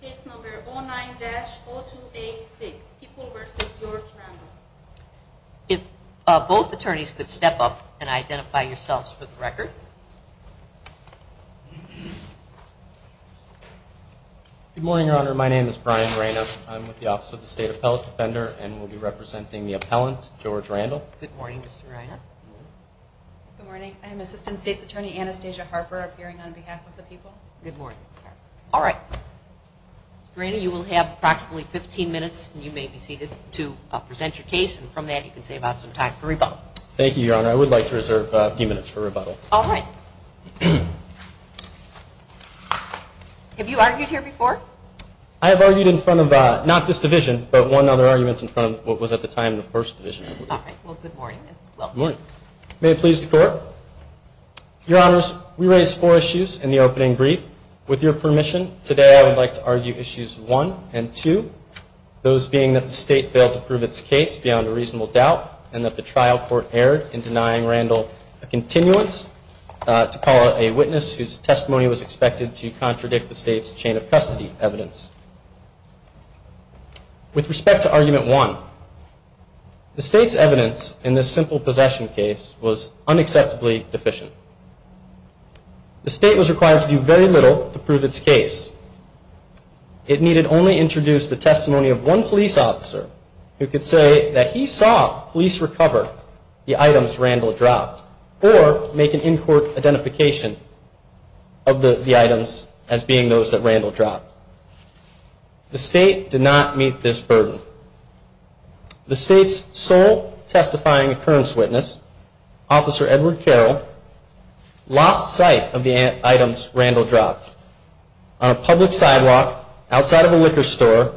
case number 09-0286, People v. George Randle. If both attorneys could step up and identify yourselves for the record. Good morning, Your Honor. My name is Brian Reyna. I'm with the Office of the State Appellate Defender and will be representing the Court. Mr. Reyna, you will have approximately 15 minutes and you may be seated to present your case and from that you can save out some time for rebuttal. Thank you, Your Honor. I would like to reserve a few minutes for rebuttal. All right. Have you argued here before? I have argued in front of not this division, but one other argument in front of what was at the time the First Division. All right. Well, good morning and welcome. Good morning. May it please the Court. I would like to argue issues one and two, those being that the State failed to prove its case beyond a reasonable doubt and that the trial court erred in denying Randle a continuance to call a witness whose testimony was expected to contradict the State's chain of custody evidence. With respect to argument one, the State's evidence in this simple possession case was unacceptably deficient. The State was required to do very little to prove its case. It needed only introduce the testimony of one police officer who could say that he saw police recover the items Randle dropped or make an in-court identification of the items as being those that Randle dropped. The State did not meet this burden. The State's sole testifying occurrence officer, Edward Carroll, lost sight of the items Randle dropped on a public sidewalk outside of a liquor store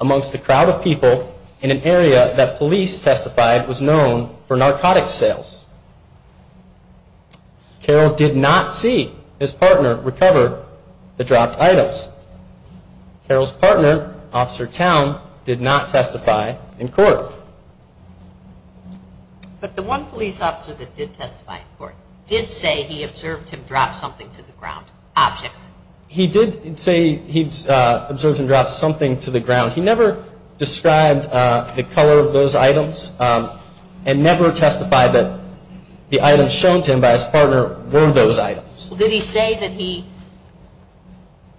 amongst a crowd of people in an area that police testified was known for narcotics sales. Carroll did not see his partner recover the dropped items. Carroll's partner, Officer Towne, did not testify in court. But the one police officer that did testify in court did say he observed him drop something to the ground, objects. He did say he observed him drop something to the ground. He never described the color of those items and never testified that the items shown to him by his partner were those items. Did he say that he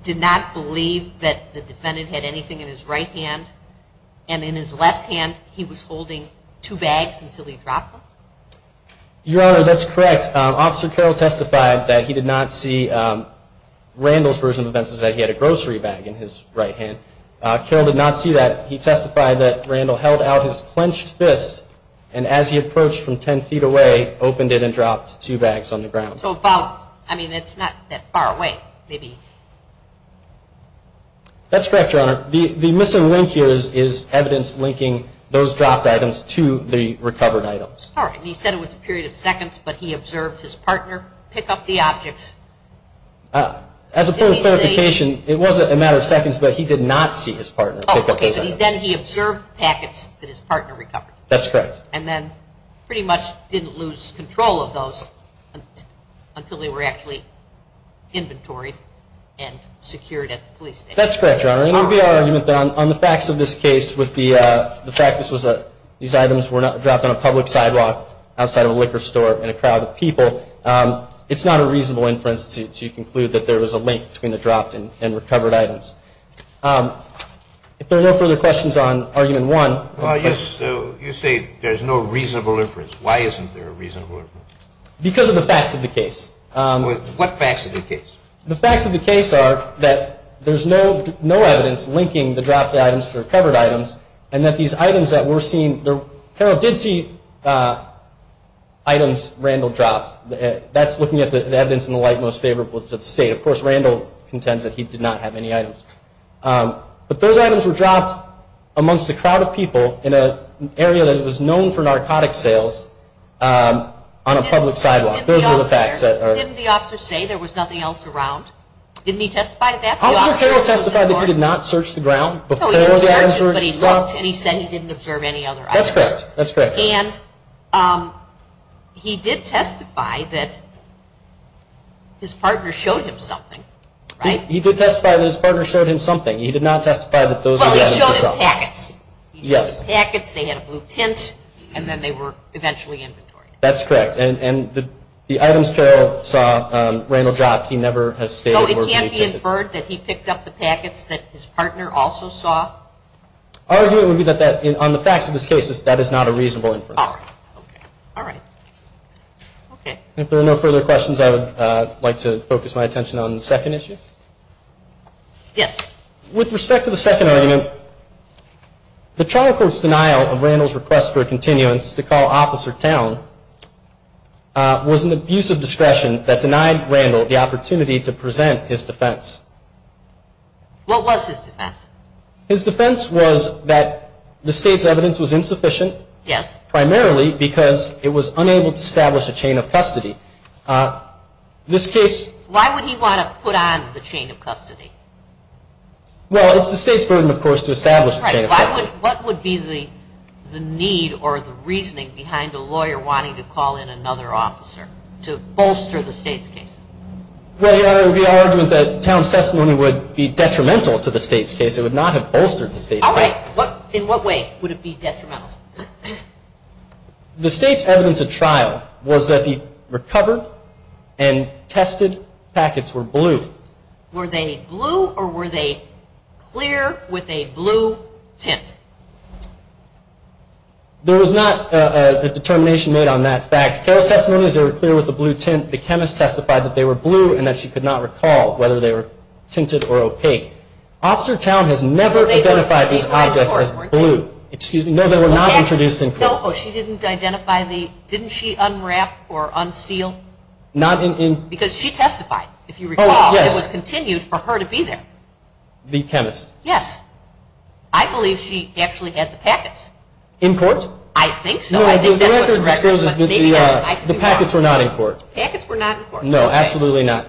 did not believe that the defendant had anything in his right hand and in his left hand he was holding two bags until he dropped them? Your Honor, that's correct. Officer Carroll testified that he did not see Randle's version of events, that he had a grocery bag in his right hand. Carroll did not testify in court that he observed his partner pick up the dropped items. He did not testify in court that he observed his partner pick up the dropped items. That's correct, Your Honor. And it would be our argument that on the facts of this case with the fact that these items were dropped on a public sidewalk outside of a liquor store and a crowd of people, it's not a reasonable inference to conclude that there was a link between the dropped and recovered items. If there are no further questions on Why isn't there a reasonable inference? Because of the facts of the case. What facts of the case? The facts of the case are that there's no evidence linking the dropped items to recovered items and that these items that were seen, Carroll did see items Randle dropped. That's looking at the evidence in the light most favorable to the narcotics sales on a public sidewalk. Those are the facts. Didn't the officer say there was nothing else around? Didn't he testify to that? Officer Carroll testified that he did not search the ground before the items were dropped. He said he didn't observe any other items. That's correct. And he did testify that his partner showed him something. He did testify that his partner showed him something. He did not testify that those were the items himself. Well, he showed him packets. He showed him packets, they had a blue tint, and then they were eventually inventoryed. That's correct. And the items Carroll saw Randle dropped, he never has stated. So it can't be inferred that he picked up the packets that his partner also saw? Argument would be that on the facts of this case, that is not a reasonable inference. If there are no further questions, I would like to focus my attention on the second issue. With respect to the second argument, the trial court's denial of Randle's request for a continuance to call Officer Towne was an abuse of discretion that denied Randle the opportunity to present his defense. What was his defense? His defense was that the state's evidence was insufficient. Yes. Primarily because it was unable to establish a chain of custody. This case... Why would he want to put on the chain of custody? Well, it's the state's burden, of course, to establish a chain of custody. What would be the need or the reasoning behind a lawyer wanting to call in another officer to bolster the state's case? Well, Your Honor, it would be our argument that Towne's testimony would be detrimental to the state's case. It would not have bolstered the state's case. In what way would it be detrimental? The state's evidence at trial was that the state's evidence was insufficient. There was not a determination made on that fact. Carroll's testimony is very clear with the blue tint. The chemist testified that they were blue and that she could not recall whether they were tinted or opaque. Officer Towne has never identified these objects as blue. No, they were not introduced in court. No, she didn't identify the... I believe she actually had the packets. In court? I think so. No, the record discloses that the packets were not in court. Packets were not in court. No, absolutely not.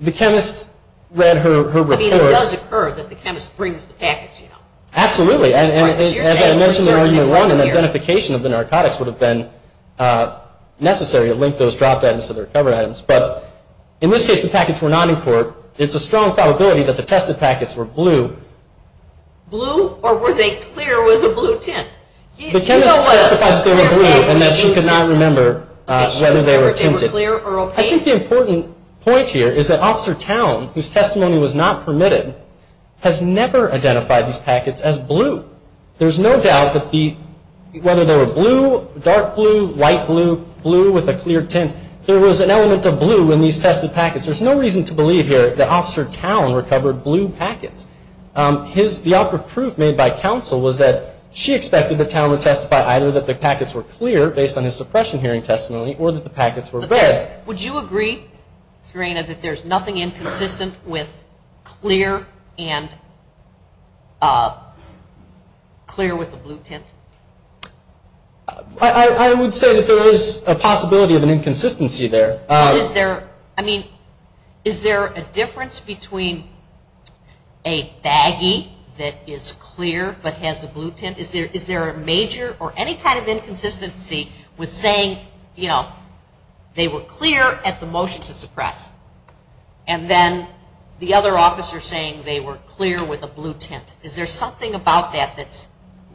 The chemist read her report. I mean, it does occur that the chemist brings the packets, you know. Absolutely, and as I mentioned in the argument earlier on, an identification of the narcotics would have been necessary to link those dropped items to the recovered items. But in this case, the packets were not in court. It's a strong probability that the tested packets were blue. Blue, or were they clear with a blue tint? The chemist testified that they were blue and that she could not remember whether they were tinted. I think the important point here is that Officer Towne, whose testimony was not permitted, has never identified these packets as blue. There's no doubt that whether they were blue, dark blue, light blue, blue with a clear tint, there was an element of blue in these tested packets. There's no reason to believe here that Officer Towne recovered blue packets. The operative proof made by counsel was that she expected that Towne would testify either that the packets were clear, based on his suppression hearing testimony, or that the packets were red. Would you agree, Serena, that there's nothing inconsistent with clear and clear with a blue tint? I would say that there is a possibility of an inconsistency there. Is there, I mean, is there a difference between a baggie that is clear but has a blue tint? Is there a major or any kind of inconsistency with saying, you know, they were clear at the motion to suppress and then the other officer saying they were clear with a blue tint? Is there something about that that's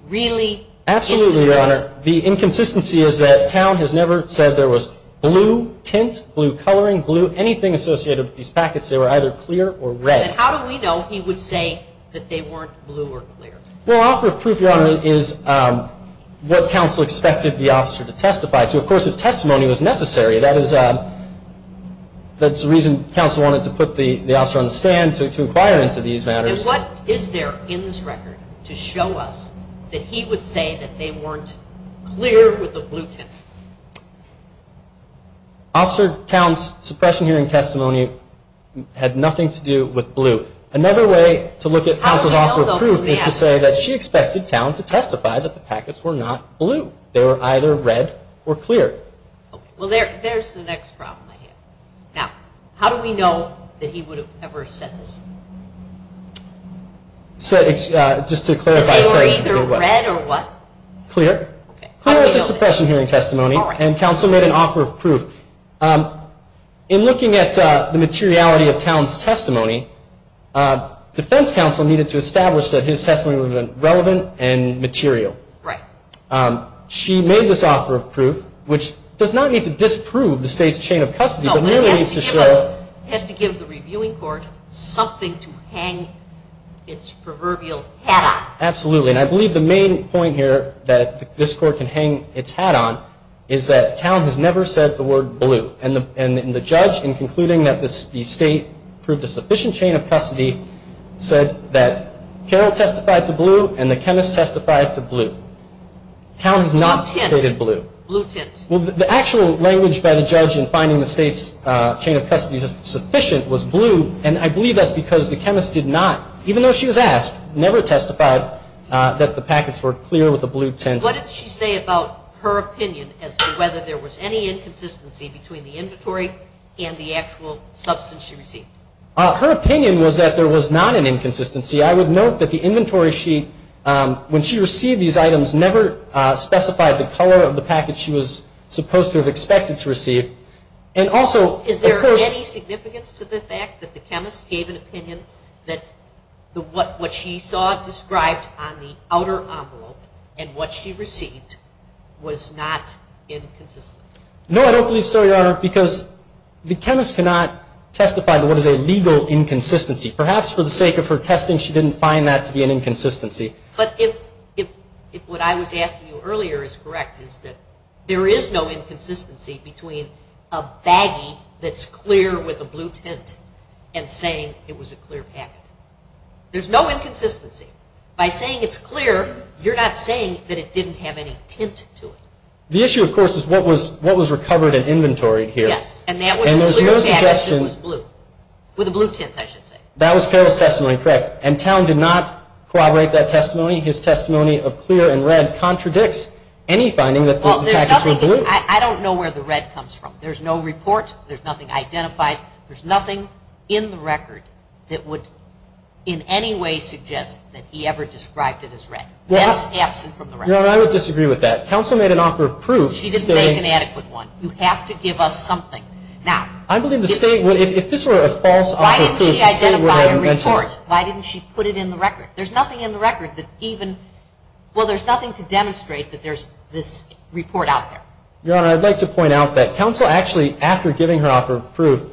really inconsistent? Absolutely, Your Honor. The inconsistency is that Towne has never said there was blue tint, blue coloring, blue anything associated with these packets. They were either clear or red. Then how do we know he would say that they weren't blue or clear? Well, operative proof, Your Honor, is what necessary. That is the reason counsel wanted to put the officer on the stand to inquire into these matters. And what is there in this record to show us that he would say that they weren't clear with a blue tint? Officer Towne's suppression hearing testimony had nothing to do with blue. Another way to look at counsel's operative proof is to say that she expected Towne to testify that the packets were not blue. They were either red or clear. Well, there's the next problem I have. Now, how do we know that he would have ever said this? Just to clarify. They were either red or what? Clear. Clear as a suppression hearing testimony and counsel made an offer of proof. In looking at the materiality of material. Right. She made this offer of proof, which does not need to disprove the state's chain of custody. No, but it has to give the reviewing court something to hang its proverbial hat on. Absolutely. And I believe the main point here that this court can hang its hat on is that Towne has never said the word blue. And the judge, in concluding that the state proved a sufficient chain of custody, said that Carol testified to blue and the chemist testified to blue. Towne has not stated blue. Blue tint. Well, the actual language by the judge in finding the state's chain of custody sufficient was blue. And I believe that's because the chemist did not, even though she was asked, never testified that the packets were clear with a blue tint. And what did she say about her opinion as to whether there was any inconsistency between the inventory and the actual substance she received? Her opinion was that there was not an inconsistency. I would note that the inventory she, when she received these items, never specified the color of the packet she was supposed to have expected to receive. Is there any significance to the fact that the chemist gave an opinion that what she saw described on the outer envelope and what she received was not inconsistent? No, I don't believe so, Your Honor, because the chemist cannot testify to what is a legal inconsistency. Perhaps for the sake of her testing, she didn't find that to be an inconsistency. But if what I was asking you earlier is correct, is that there is no inconsistency between a baggie that's clear with a blue tint and saying it was a clear packet. There's no inconsistency. By saying it's clear, you're not saying that it didn't have any tint to it. The issue, of course, is what was recovered and inventoried here. Yes, and that was a clear packet that was blue. With a blue tint, I should say. That was Carroll's testimony, correct. And Towne did not corroborate that testimony. His testimony of clear and red contradicts any finding that the packets were blue. I don't know where the red comes from. There's no report. There's nothing identified. There's nothing in the record that would in any way suggest that he ever described it as red. Your Honor, I would disagree with that. Counsel made an offer of proof. She didn't make an adequate one. You have to give us something. I believe the State, if this were a false offer of proof, the State would have mentioned it. Why didn't she identify a report? Why didn't she put it in the record? There's nothing in the record that even, well, there's nothing to demonstrate that there's this report out there. Your Honor, I'd like to point out that Counsel actually, after giving her offer of proof,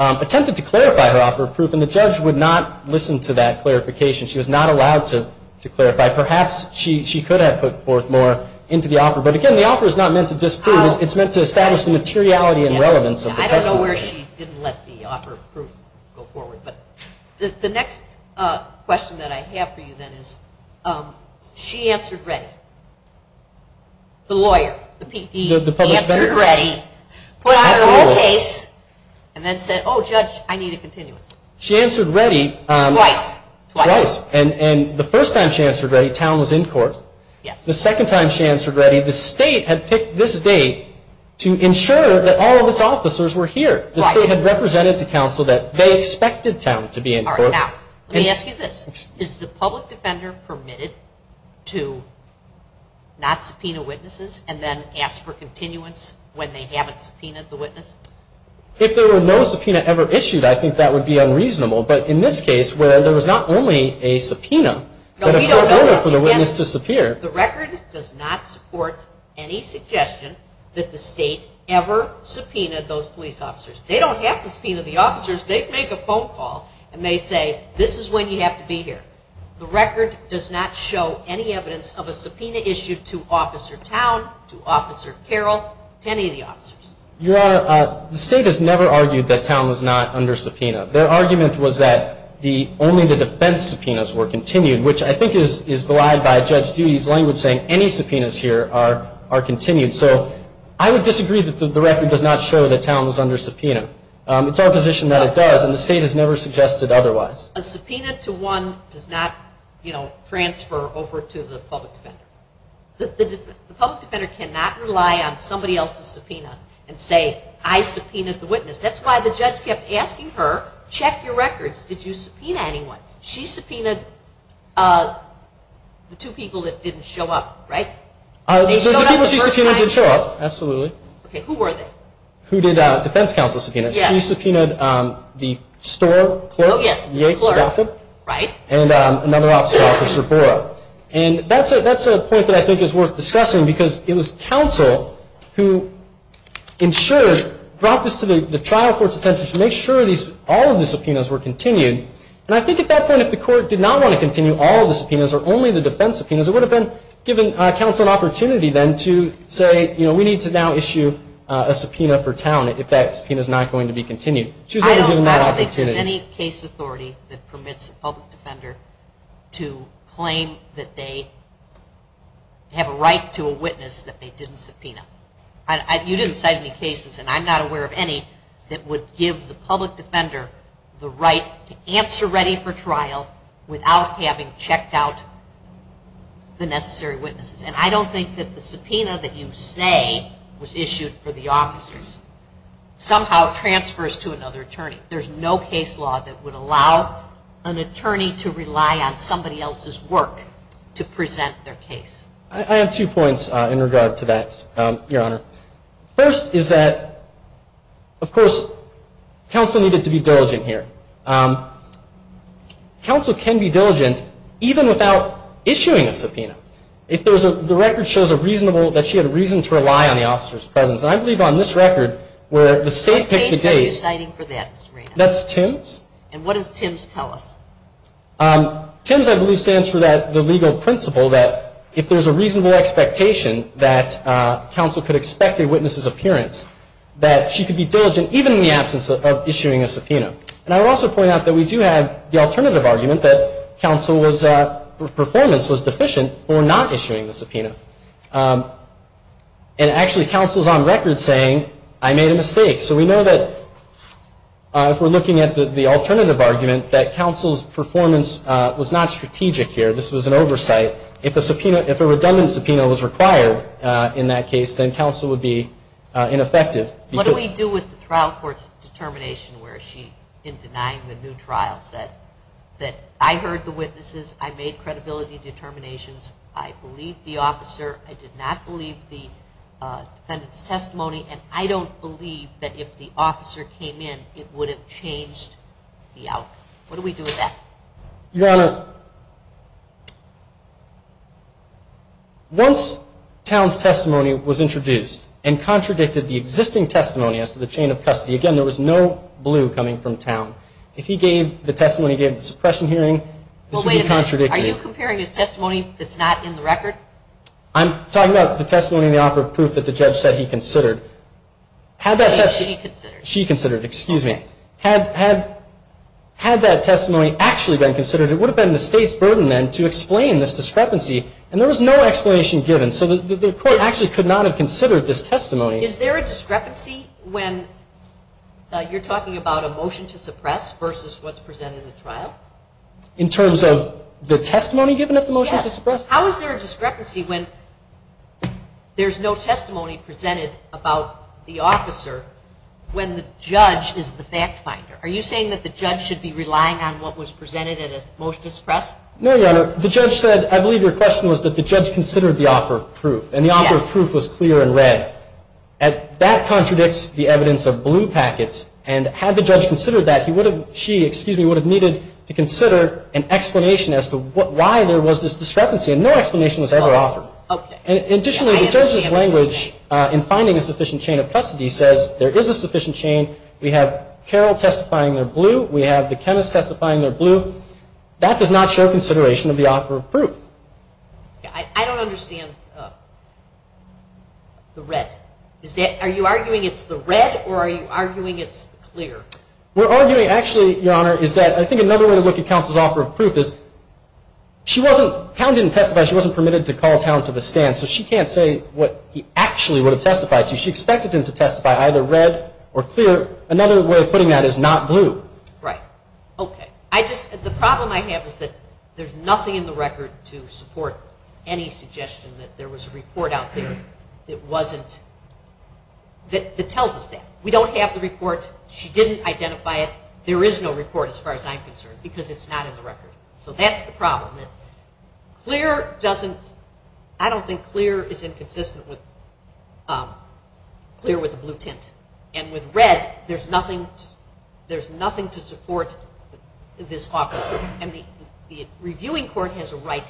attempted to clarify her offer of proof, and the judge would not listen to that clarification. She was not allowed to clarify. Perhaps she could have put forth more into the offer. But again, the offer is not meant to disprove. It's meant to establish the materiality and relevance of the testimony. I don't know where she didn't let the offer of proof go forward. The next question that I have for you then is, she answered ready. The lawyer, the P.E., answered ready, put out her own case, and then said, oh, judge, I need a continuance. She answered ready twice, and the first time she answered ready, Towne was in court. The second time she answered ready, the State had picked this date to ensure that all of its officers were here. The State had represented to Counsel that they expected Towne to be in court. Now, let me ask you this. Is the public defender permitted to not subpoena witnesses and then ask for continuance when they haven't subpoenaed the witness? If there were no subpoena ever issued, I think that would be unreasonable. But in this case, where there was not only a subpoena, but a pro bono for the witness to disappear. The record does not support any suggestion that the State ever subpoenaed those police officers. They don't have to subpoena the officers. They make a phone call, and they say, this is when you have to be here. The record does not show any evidence of a subpoena issued to Officer Towne, to Officer Carroll, to any of the officers. Your Honor, the State has never argued that Towne was not under subpoena. Their argument was that only the defense subpoenas were continued, which I think is belied by Judge Dugie's language saying any subpoenas here are continued. So I would disagree that the record does not show that Towne was under subpoena. It's our position that it does, and the State has never suggested otherwise. A subpoena to one does not transfer over to the public defender. The public defender cannot rely on somebody else's subpoena and say, I subpoenaed the witness. That's why the judge kept asking her, check your records, did you subpoena anyone? She subpoenaed the two people that didn't show up, right? The people she subpoenaed didn't show up, absolutely. Okay, who were they? Who did Defense Counsel subpoena? She subpoenaed the store clerk, Yates, and another officer, Officer Borough. And that's a point that I think is worth discussing because it was counsel who ensured, brought this to the trial court's attention to make sure all of the subpoenas were continued. And I think at that point if the court did not want to continue all of the subpoenas or only the defense subpoenas, it would have been giving counsel an opportunity then to say, you know, we need to now issue a subpoena for Towne if that subpoena is not going to be continued. She was only given that opportunity. Is there any case authority that permits a public defender to claim that they have a right to a witness that they didn't subpoena? You didn't cite any cases, and I'm not aware of any, that would give the public defender the right to answer ready for trial without having checked out the necessary witnesses. And I don't think that the subpoena that you say was issued for the officers somehow transfers to another attorney. There's no case law that would allow an attorney to rely on somebody else's work to present their case. I have two points in regard to that, Your Honor. First is that, of course, counsel needed to be diligent here. Counsel can be diligent even without issuing a subpoena. If there's a, the record shows a reasonable, that she had a reason to rely on the officer's presence. And I believe on this record where the state picked the date. What case are you citing for that, Mr. Reynolds? That's Tim's. And what does Tim's tell us? Tim's, I believe, stands for the legal principle that if there's a reasonable expectation that counsel could expect a witness's appearance, that she could be diligent even in the absence of issuing a subpoena. And I would also point out that we do have the alternative argument that counsel was, her performance was deficient for not issuing the subpoena. And actually, counsel's on record saying, I made a mistake. So we know that if we're looking at the alternative argument, that counsel's performance was not strategic here. This was an oversight. If a subpoena, if a redundant subpoena was required in that case, then counsel would be ineffective. What do we do with the trial court's determination where she, in denying the new trial, said that I heard the witnesses, I made credibility determinations, I believed the officer, I did not believe the defendant's testimony, and I don't believe that if the officer came in, it would have changed the outcome. What do we do with that? Your Honor, once Towne's testimony was introduced and contradicted the existing testimony as to the chain of custody, again, there was no blue coming from Towne. If he gave, the testimony he gave at the suppression hearing, this would be contradictory. Well, wait a minute. Are you comparing his testimony that's not in the record? I'm talking about the testimony in the offer of proof that the judge said he considered. Had that testimony... That she considered. She considered. Excuse me. Had that testimony actually been considered, it would have been the State's burden then to explain this discrepancy. And there was no explanation given. So the court actually could not have considered this testimony. Is there a discrepancy when you're talking about a motion to suppress versus what's presented in the trial? In terms of the testimony given at the motion to suppress? Yes. How is there a discrepancy when there's no testimony presented about the officer when the judge is the fact finder? Are you saying that the judge should be relying on what was presented at a motion to suppress? No, Your Honor. The judge said, I believe your question was that the judge considered the offer of proof. Yes. The offer of proof was clear and read. That contradicts the evidence of blue packets. And had the judge considered that, she would have needed to consider an explanation as to why there was this discrepancy. And no explanation was ever offered. Additionally, the judge's language in finding a sufficient chain of custody says there is a sufficient chain. We have Carroll testifying they're blue. We have the chemist testifying they're blue. That does not show consideration of the offer of proof. I don't understand the red. Are you arguing it's the red or are you arguing it's clear? We're arguing actually, Your Honor, is that I think another way to look at counsel's offer of proof is, she wasn't, Towne didn't testify, she wasn't permitted to call Towne to the stand, so she can't say what he actually would have testified to. She expected him to testify either red or clear. Another way of putting that is not blue. Right. Okay. I just, the problem I have is that there's nothing in the record to support any suggestion that there was a report out there that wasn't, that tells us that. We don't have the report. She didn't identify it. There is no report as far as I'm concerned because it's not in the record. So that's the problem. Clear doesn't, I don't think clear is inconsistent with, clear with the blue tint. And with red, there's nothing, there's nothing to support this offer. And the reviewing court has a right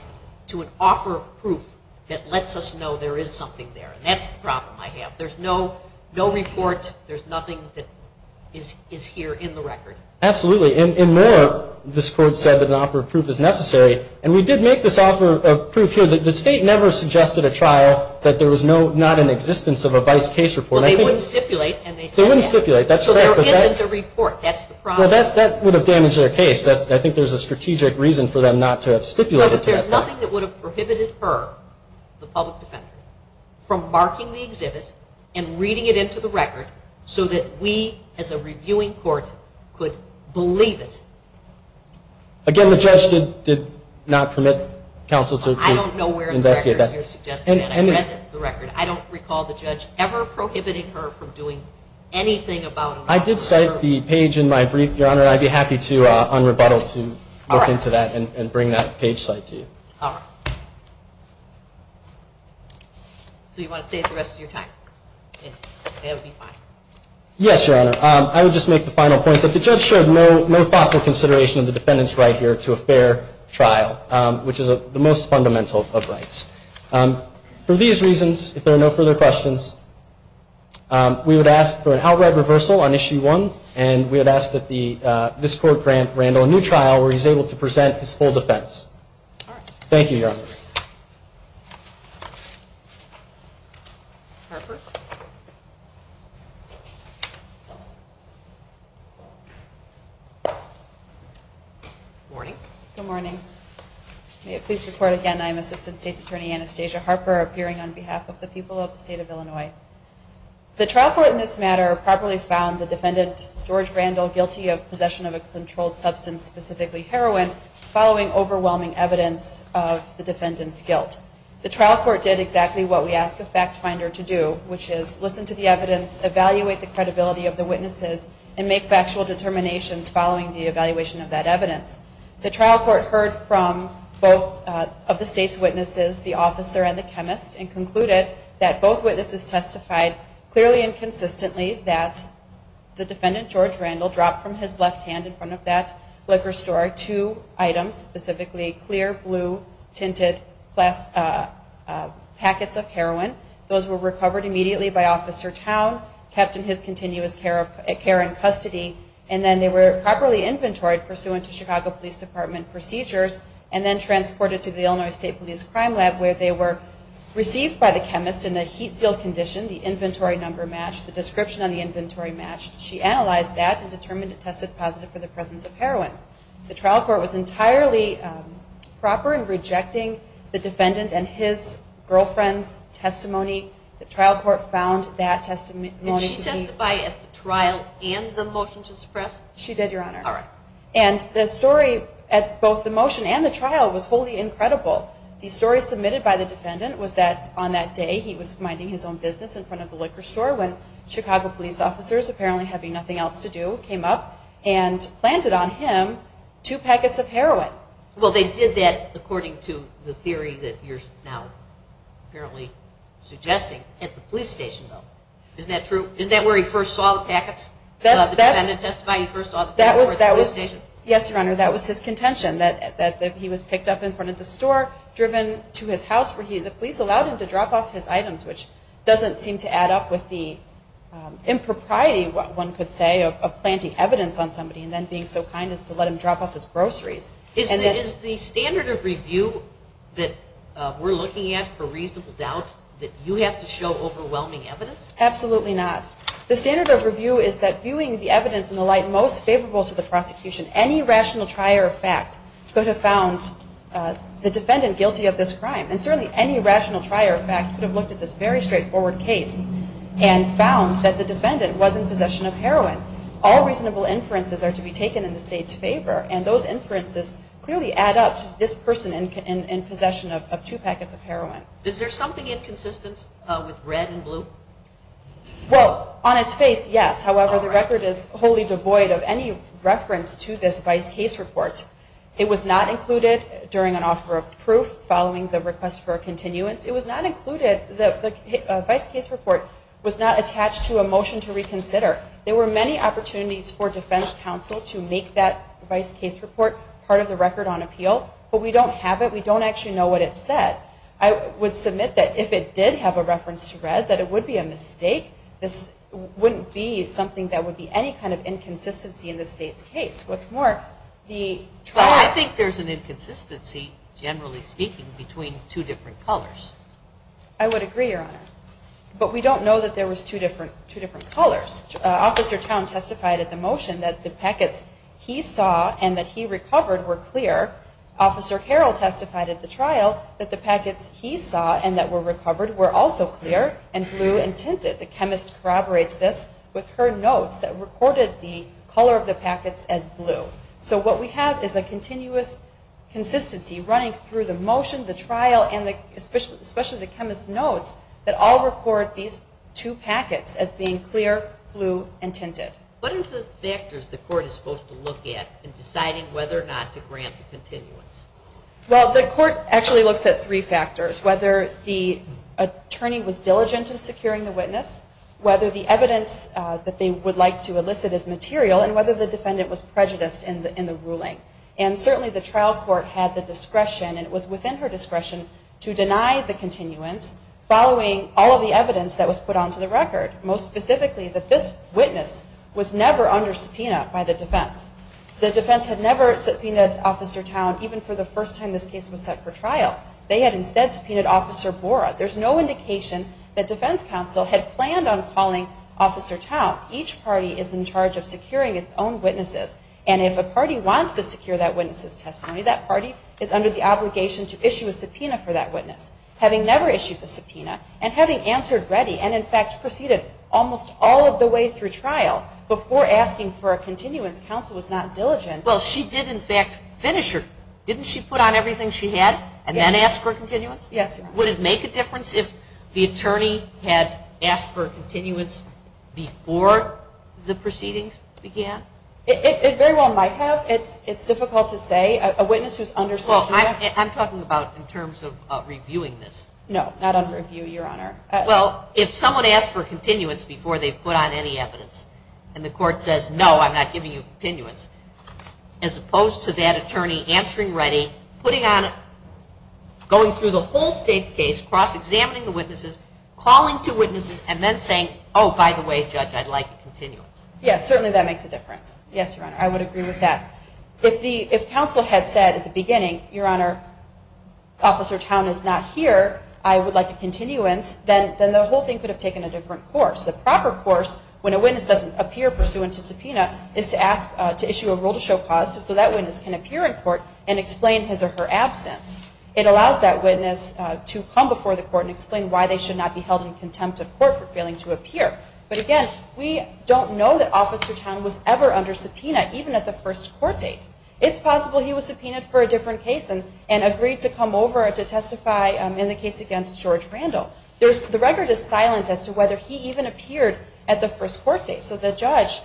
to an offer of proof that lets us know there is something there. That's the problem I have. There's no, no report. There's nothing that is here in the record. Absolutely. And more, this Court said that an offer of proof is necessary. And we did make this offer of proof here. The State never suggested a trial that there was no, not in existence of a vice case report. Well, they wouldn't stipulate. They wouldn't stipulate. That's correct. So there isn't a report. That's the problem. Well, that would have damaged their case. I think there's a strategic reason for them not to have stipulated. No, but there's nothing that would have prohibited her, the public defender, from marking the exhibit and reading it into the record so that we as a reviewing court could believe it. Again, the judge did not permit counsel to investigate that. I don't know where in the record you're suggesting that. I read the record. I don't recall the judge ever prohibiting her from doing anything about it. I did cite the page in my brief, Your Honor, and I'd be happy to, on rebuttal, to look into that and bring that page cite to you. All right. So you want to save the rest of your time? That would be fine. Yes, Your Honor. I would just make the final point that the judge showed no thoughtful consideration of the defendant's right here to a fair trial, which is the most fundamental of rights. For these reasons, if there are no further questions, we would ask for an outright reversal on Issue 1, and we would ask that this court grant Randall a new trial where he's able to present his full defense. Thank you, Your Honor. Harper? Good morning. Good morning. May it please report again, I am Assistant State's Attorney Anastasia Harper, appearing on behalf of the people of the State of Illinois. The trial court in this matter properly found the defendant, George Randall, guilty of possession of a controlled substance, specifically heroin, following overwhelming evidence of the defendant's guilt. The trial court did exactly what we ask a fact finder to do, which is listen to the evidence, evaluate the credibility of the witnesses, and make factual determinations following the evaluation of that evidence. The trial court heard from both of the State's witnesses, the officer and the chemist, and concluded that both witnesses testified clearly and consistently that the defendant, George Randall, dropped from his left hand in front of that liquor store two items, specifically clear blue tinted packets of heroin. Those were recovered immediately by Officer Town, kept in his continuous care and custody, and then they were properly inventoried pursuant to Chicago Police Department procedures, and then transported to the Illinois State Police Crime Lab, where they were received by the chemist in a heat sealed condition, the inventory number matched, the description on the inventory matched. She analyzed that and determined it tested positive for the presence of heroin. The trial court was entirely proper in rejecting the defendant and his girlfriend's testimony. The trial court found that testimony to be... She did, Your Honor. And the story at both the motion and the trial was wholly incredible. The story submitted by the defendant was that on that day, he was minding his own business in front of the liquor store when Chicago police officers, apparently having nothing else to do, came up and planted on him two packets of heroin. Well, they did that according to the theory that you're now apparently suggesting at the police station. Isn't that true? Isn't that where he first saw the packets? The defendant testified he first saw the packets at the police station? Yes, Your Honor. That was his contention that he was picked up in front of the store, driven to his house where the police allowed him to drop off his items, which doesn't seem to add up with the impropriety, one could say, of planting evidence on somebody and then being so kind as to let him drop off his groceries. Is the standard of review that we're looking at for reasonable doubt that you have to show overwhelming evidence? Absolutely not. The standard of review is that viewing the evidence in the light most favorable to the prosecution, any rational trier of fact could have found the defendant guilty of this crime. And certainly any rational trier of fact could have looked at this very straightforward case and found that the defendant was in possession of heroin. All reasonable inferences are to be taken in the State's favor, and those inferences clearly add up to this person in possession of two packets of heroin. Is there something inconsistent with red and blue? Well, on its face, yes. However, the record is wholly devoid of any reference to this vice case report. It was not included during an offer of proof following the request for a continuance. It was not included. The vice case report was not attached to a motion to reconsider. There were many opportunities for defense counsel to make that vice case report part of the record on appeal, but we don't have it. I would submit that if it did have a reference to red, that it would be a mistake. This wouldn't be something that would be any kind of inconsistency in the State's case. What's more, the trial- Well, I think there's an inconsistency, generally speaking, between two different colors. I would agree, Your Honor. But we don't know that there was two different colors. Officer Town testified at the motion that the packets he saw and that he recovered were clear. Officer Carroll testified at the trial that the packets he saw and that were recovered were also clear and blue and tinted. The chemist corroborates this with her notes that recorded the color of the packets as blue. So what we have is a continuous consistency running through the motion, the trial, and especially the chemist's notes that all record these two packets as being clear, blue, and tinted. What are the factors the court is supposed to look at in deciding whether or not to grant a continuance? Well, the court actually looks at three factors, whether the attorney was diligent in securing the witness, whether the evidence that they would like to elicit is material, and whether the defendant was prejudiced in the ruling. And certainly the trial court had the discretion, and it was within her discretion, to deny the continuance following all of the evidence that was put onto the record, most specifically that this witness was never under subpoena by the defense. The defense had never subpoenaed Officer Town even for the first time this case was set for trial. They had instead subpoenaed Officer Bora. There's no indication that defense counsel had planned on calling Officer Town. Each party is in charge of securing its own witnesses, and if a party wants to secure that witness's testimony, that party is under the obligation to issue a subpoena for that witness. Having never issued the subpoena and having answered ready and in fact proceeded almost all of the way through trial before asking for a continuance, counsel was not diligent. Well, she did in fact finish her. Didn't she put on everything she had and then ask for a continuance? Yes. Would it make a difference if the attorney had asked for a continuance before the proceedings began? It very well might have. It's difficult to say. Well, I'm talking about in terms of reviewing this. No, not on review, Your Honor. Well, if someone asks for a continuance before they've put on any evidence and the court says, no, I'm not giving you a continuance, as opposed to that attorney answering ready, going through the whole state's case, cross-examining the witnesses, calling two witnesses, and then saying, oh, by the way, Judge, I'd like a continuance. Yes, certainly that makes a difference. Yes, Your Honor, I would agree with that. If counsel had said at the beginning, Your Honor, Officer Towne is not here, I would like a continuance, then the whole thing could have taken a different course. The proper course, when a witness doesn't appear pursuant to subpoena, is to ask to issue a rule to show cause so that witness can appear in court and explain his or her absence. It allows that witness to come before the court and explain why they should not be held in contempt of court for failing to appear. But again, we don't know that Officer Towne was ever under subpoena, even at the first court date. It's possible he was subpoenaed for a different case and agreed to come over to testify in the case against George Randall. The record is silent as to whether he even appeared at the first court date. So the judge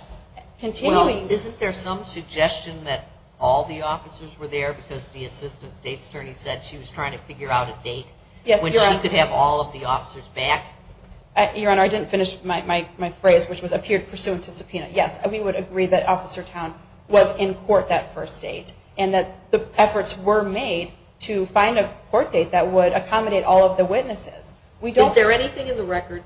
continuing... Well, isn't there some suggestion that all the officers were there because the assistant state attorney said she was trying to figure out a date when she could have all of the officers back? Your Honor, I didn't finish my phrase, which was appeared pursuant to subpoena. Yes, we would agree that Officer Towne was in court that first date and that the efforts were made to find a court date that would accommodate all of the witnesses. Is there anything in the record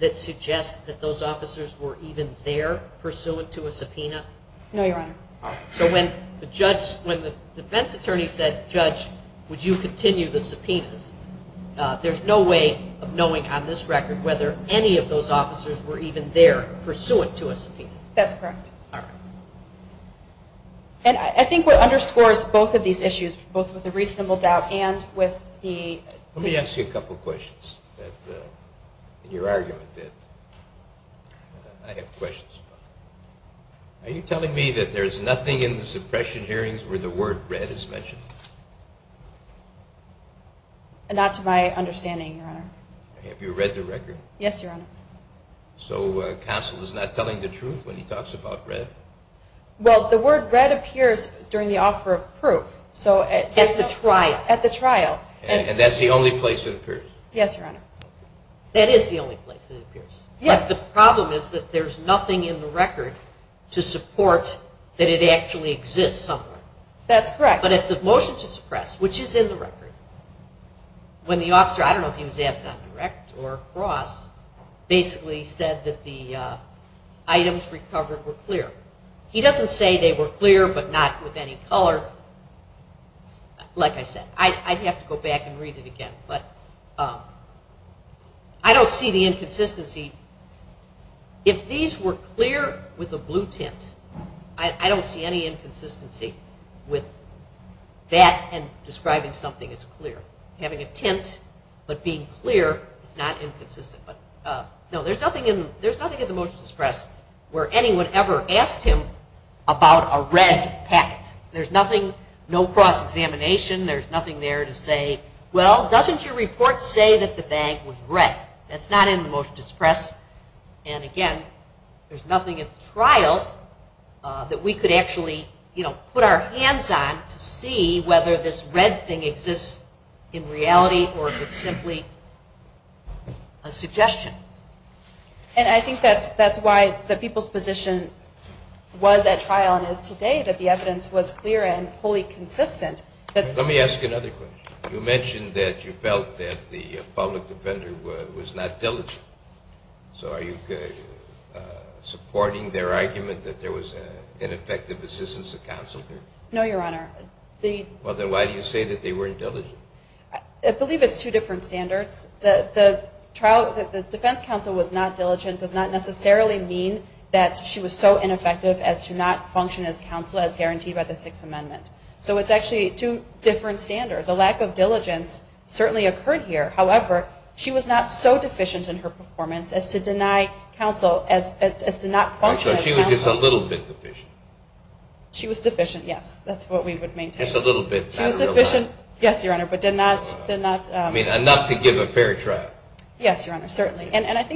that suggests that those officers were even there pursuant to a subpoena? No, Your Honor. So when the defense attorney said, Judge, would you continue the subpoenas, there's no way of knowing on this record whether any of those officers were even there pursuant to a subpoena. That's correct. All right. And I think what underscores both of these issues, both with the reasonable doubt and with the... Let me ask you a couple of questions. In your argument, I have questions. Are you telling me that there's nothing in the suppression hearings where the word red is mentioned? Not to my understanding, Your Honor. Have you read the record? Yes, Your Honor. So counsel is not telling the truth when he talks about red? Well, the word red appears during the offer of proof. At the trial? At the trial. And that's the only place it appears? Yes, Your Honor. That is the only place it appears. Yes. But the problem is that there's nothing in the record to support that it actually exists somewhere. That's correct. But at the motion to suppress, which is in the record, when the officer, I don't know if he was asked on direct or cross, basically said that the items recovered were clear. He doesn't say they were clear but not with any color. Like I said, I'd have to go back and read it again. But I don't see the inconsistency. If these were clear with a blue tint, I don't see any inconsistency with that and describing something as clear. Having a tint but being clear is not inconsistent. But no, there's nothing in the motion to suppress where anyone ever asked him about a red packet. There's nothing, no cross-examination. There's nothing there to say, well, doesn't your report say that the bag was red? That's not in the motion to suppress. And, again, there's nothing at the trial that we could actually, you know, put our hands on to see whether this red thing exists in reality or if it's simply a suggestion. And I think that's why the people's position was at trial and is today that the evidence was clear and wholly consistent. Let me ask you another question. You mentioned that you felt that the public defender was not diligent. So are you supporting their argument that there was ineffective assistance of counsel here? No, Your Honor. Well, then why do you say that they weren't diligent? I believe it's two different standards. The defense counsel was not diligent does not necessarily mean that she was so ineffective as to not function as counsel as guaranteed by the Sixth Amendment. So it's actually two different standards. A lack of diligence certainly occurred here. However, she was not so deficient in her performance as to deny counsel as to not function as counsel. So she was just a little bit deficient. She was deficient, yes. That's what we would maintain. Just a little bit, not a lot. She was deficient, yes, Your Honor, but did not. Enough to give a fair trial. Yes, Your Honor, certainly. And, of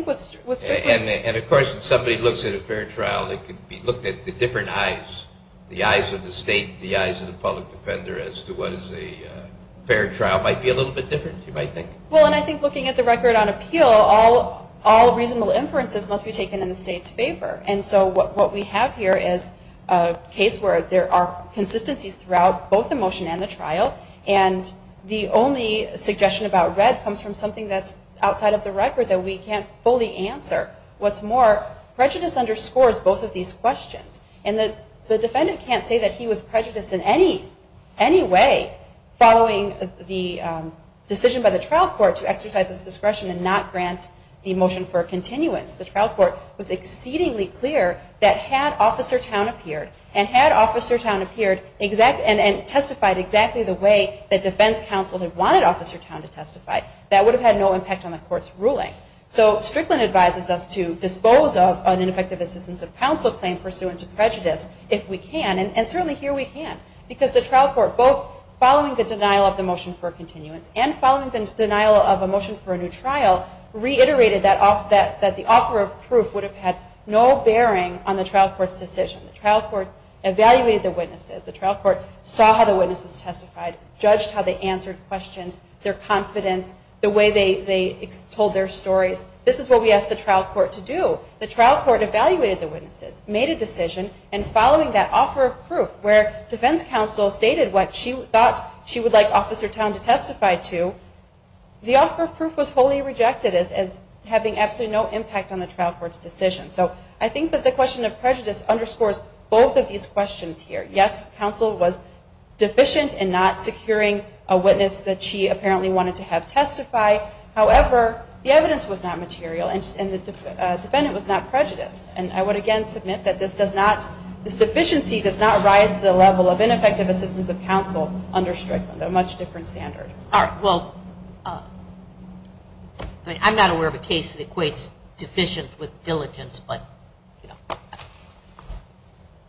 course, if somebody looks at a fair trial, it could be looked at the different eyes, the eyes of the state, the eyes of the public defender, as to what is a fair trial might be a little bit different, you might think. Well, and I think looking at the record on appeal, all reasonable inferences must be taken in the state's favor. And so what we have here is a case where there are consistencies throughout both the motion and the trial, and the only suggestion about red comes from something that's outside of the record that we can't fully answer. What's more, prejudice underscores both of these questions, and the defendant can't say that he was prejudiced in any way following the decision by the trial court to exercise his discretion and not grant the motion for a continuance. The trial court was exceedingly clear that had Officer Towne appeared, and had Officer Towne appeared and testified exactly the way that defense counsel had wanted Officer Towne to testify, that would have had no impact on the court's ruling. So Strickland advises us to dispose of an ineffective assistance of counsel claim pursuant to prejudice if we can. And certainly here we can. Because the trial court, both following the denial of the motion for a continuance and following the denial of a motion for a new trial, reiterated that the offer of proof would have had no bearing on the trial court's decision. The trial court evaluated the witnesses. The trial court saw how the witnesses testified, judged how they answered questions, their confidence, the way they told their stories. This is what we asked the trial court to do. The trial court evaluated the witnesses, made a decision, and following that offer of proof where defense counsel stated what she thought she would like Officer Towne to testify to, the offer of proof was wholly rejected as having absolutely no impact on the trial court's decision. So I think that the question of prejudice underscores both of these questions here. Yes, counsel was deficient in not securing a witness that she apparently wanted to have testify. However, the evidence was not material and the defendant was not prejudiced. And I would, again, submit that this deficiency does not rise to the level of ineffective assistance of counsel under Strickland, a much different standard. All right. Well, I'm not aware of a case that equates deficient with diligence, but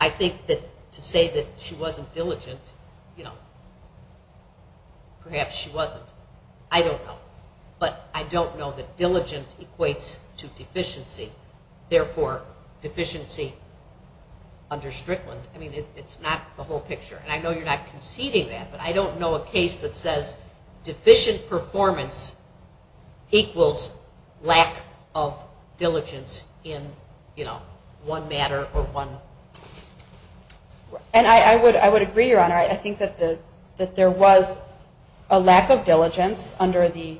I think that to say that she wasn't diligent, you know, perhaps she wasn't. I don't know. But I don't know that diligent equates to deficiency. Therefore, deficiency under Strickland, I mean, it's not the whole picture. And I know you're not conceding that, but I don't know a case that says deficient performance equals lack of diligence in, you know, one matter or one. And I would agree, Your Honor, I think that the, that there was a lack of diligence under the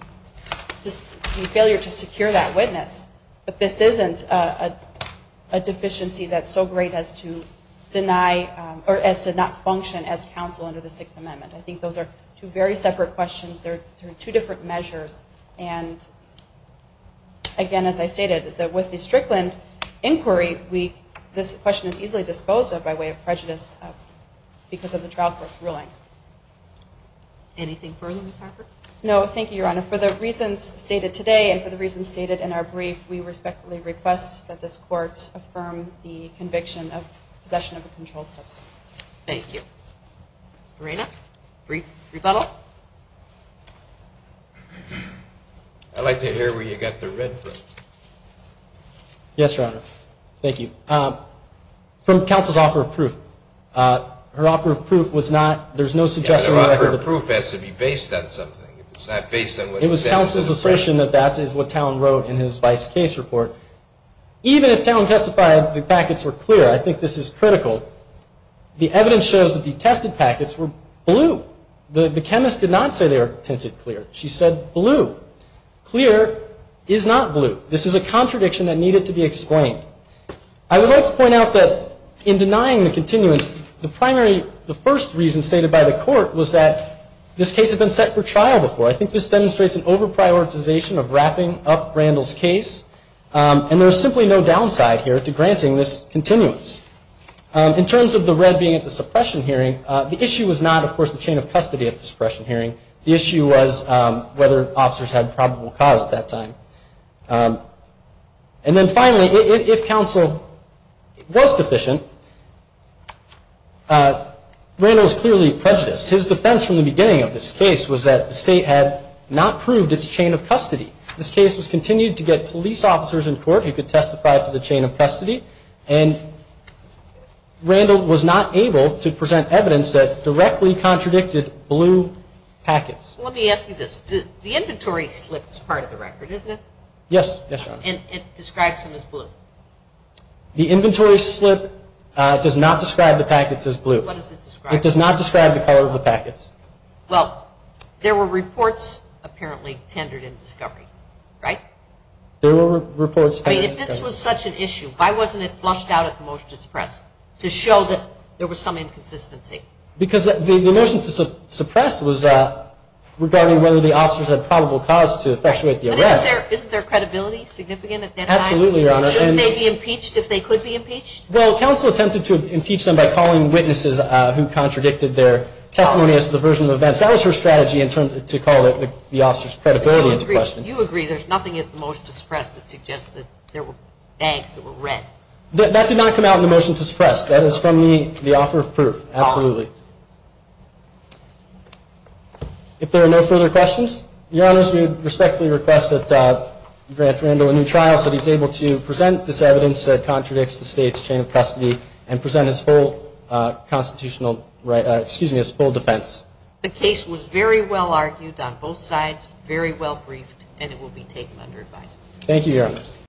failure to secure that witness. But this isn't a deficiency that's so great as to deny or as to not function as counsel under the sixth amendment. I think those are two very separate questions. There are two different measures. And again, as I stated that with the Strickland inquiry, we, this question is easily disposed of by way of prejudice because of the trial court's ruling. Anything further, Ms. Harper? No, thank you, Your Honor. For the reasons stated today and for the reasons stated in our brief, we respectfully request that this court affirm the conviction of possession of a controlled substance. Thank you. Serena, brief rebuttal. I'd like to hear where you got the red from. Yes, Your Honor. Thank you. From counsel's offer of proof, her offer of proof was not, there's no suggestion. Her proof has to be based on something. It's not based on what. It was counsel's assertion that that is what Talon wrote in his vice case report. Even if Talon testified the packets were clear, I think this is critical. The evidence shows that the tested packets were blue. The chemist did not say they were tinted clear. She said blue. Clear is not blue. This is a contradiction that needed to be explained. I would like to point out that in denying the continuance, the primary, the first reason stated by the court was that this case had been set for trial before. I think this demonstrates an over-prioritization of wrapping up Randall's case. And there's simply no downside here to granting this continuance. In terms of the red being at the suppression hearing, the issue was not, of course, the chain of custody at the suppression hearing. The issue was whether officers had probable cause at that time. And then finally, if counsel was deficient, Randall is clearly prejudiced. His defense from the beginning of this case was that the state had not proved its chain of custody. This case was continued to get police officers in court who could testify to the chain of custody. And Randall was not able to present evidence that directly contradicted blue packets. Let me ask you this. The inventory slips part of the record. Isn't it? Yes. And it describes them as blue. The inventory slip does not describe the packets as blue. What does it describe? It does not describe the color of the packets. Well, there were reports apparently tendered in discovery, right? There were reports. I mean, if this was such an issue, why wasn't it flushed out at the motion to suppress to show that there was some inconsistency? Because the motion to suppress was regarding whether the officers had a probable cause to effectuate the arrest. Isn't there credibility significant at that time? Absolutely, Your Honor. Shouldn't they be impeached if they could be impeached? Well, counsel attempted to impeach them by calling witnesses who contradicted their testimony as to the version of events. That was her strategy in terms of to call it the officer's credibility into question. You agree. There's nothing in the motion to suppress that suggests that there were bags that were red. That did not come out in the motion to suppress. That is from the offer of proof. Absolutely. If there are no further questions, Your Honor, we respectfully request that you grant Randall a new trial so that he's able to present this evidence that contradicts the state's chain of custody and present his full constitutional right, excuse me, his full defense. The case was very well argued on both sides, very well briefed, and it will be taken under advice. Thank you, Your Honor.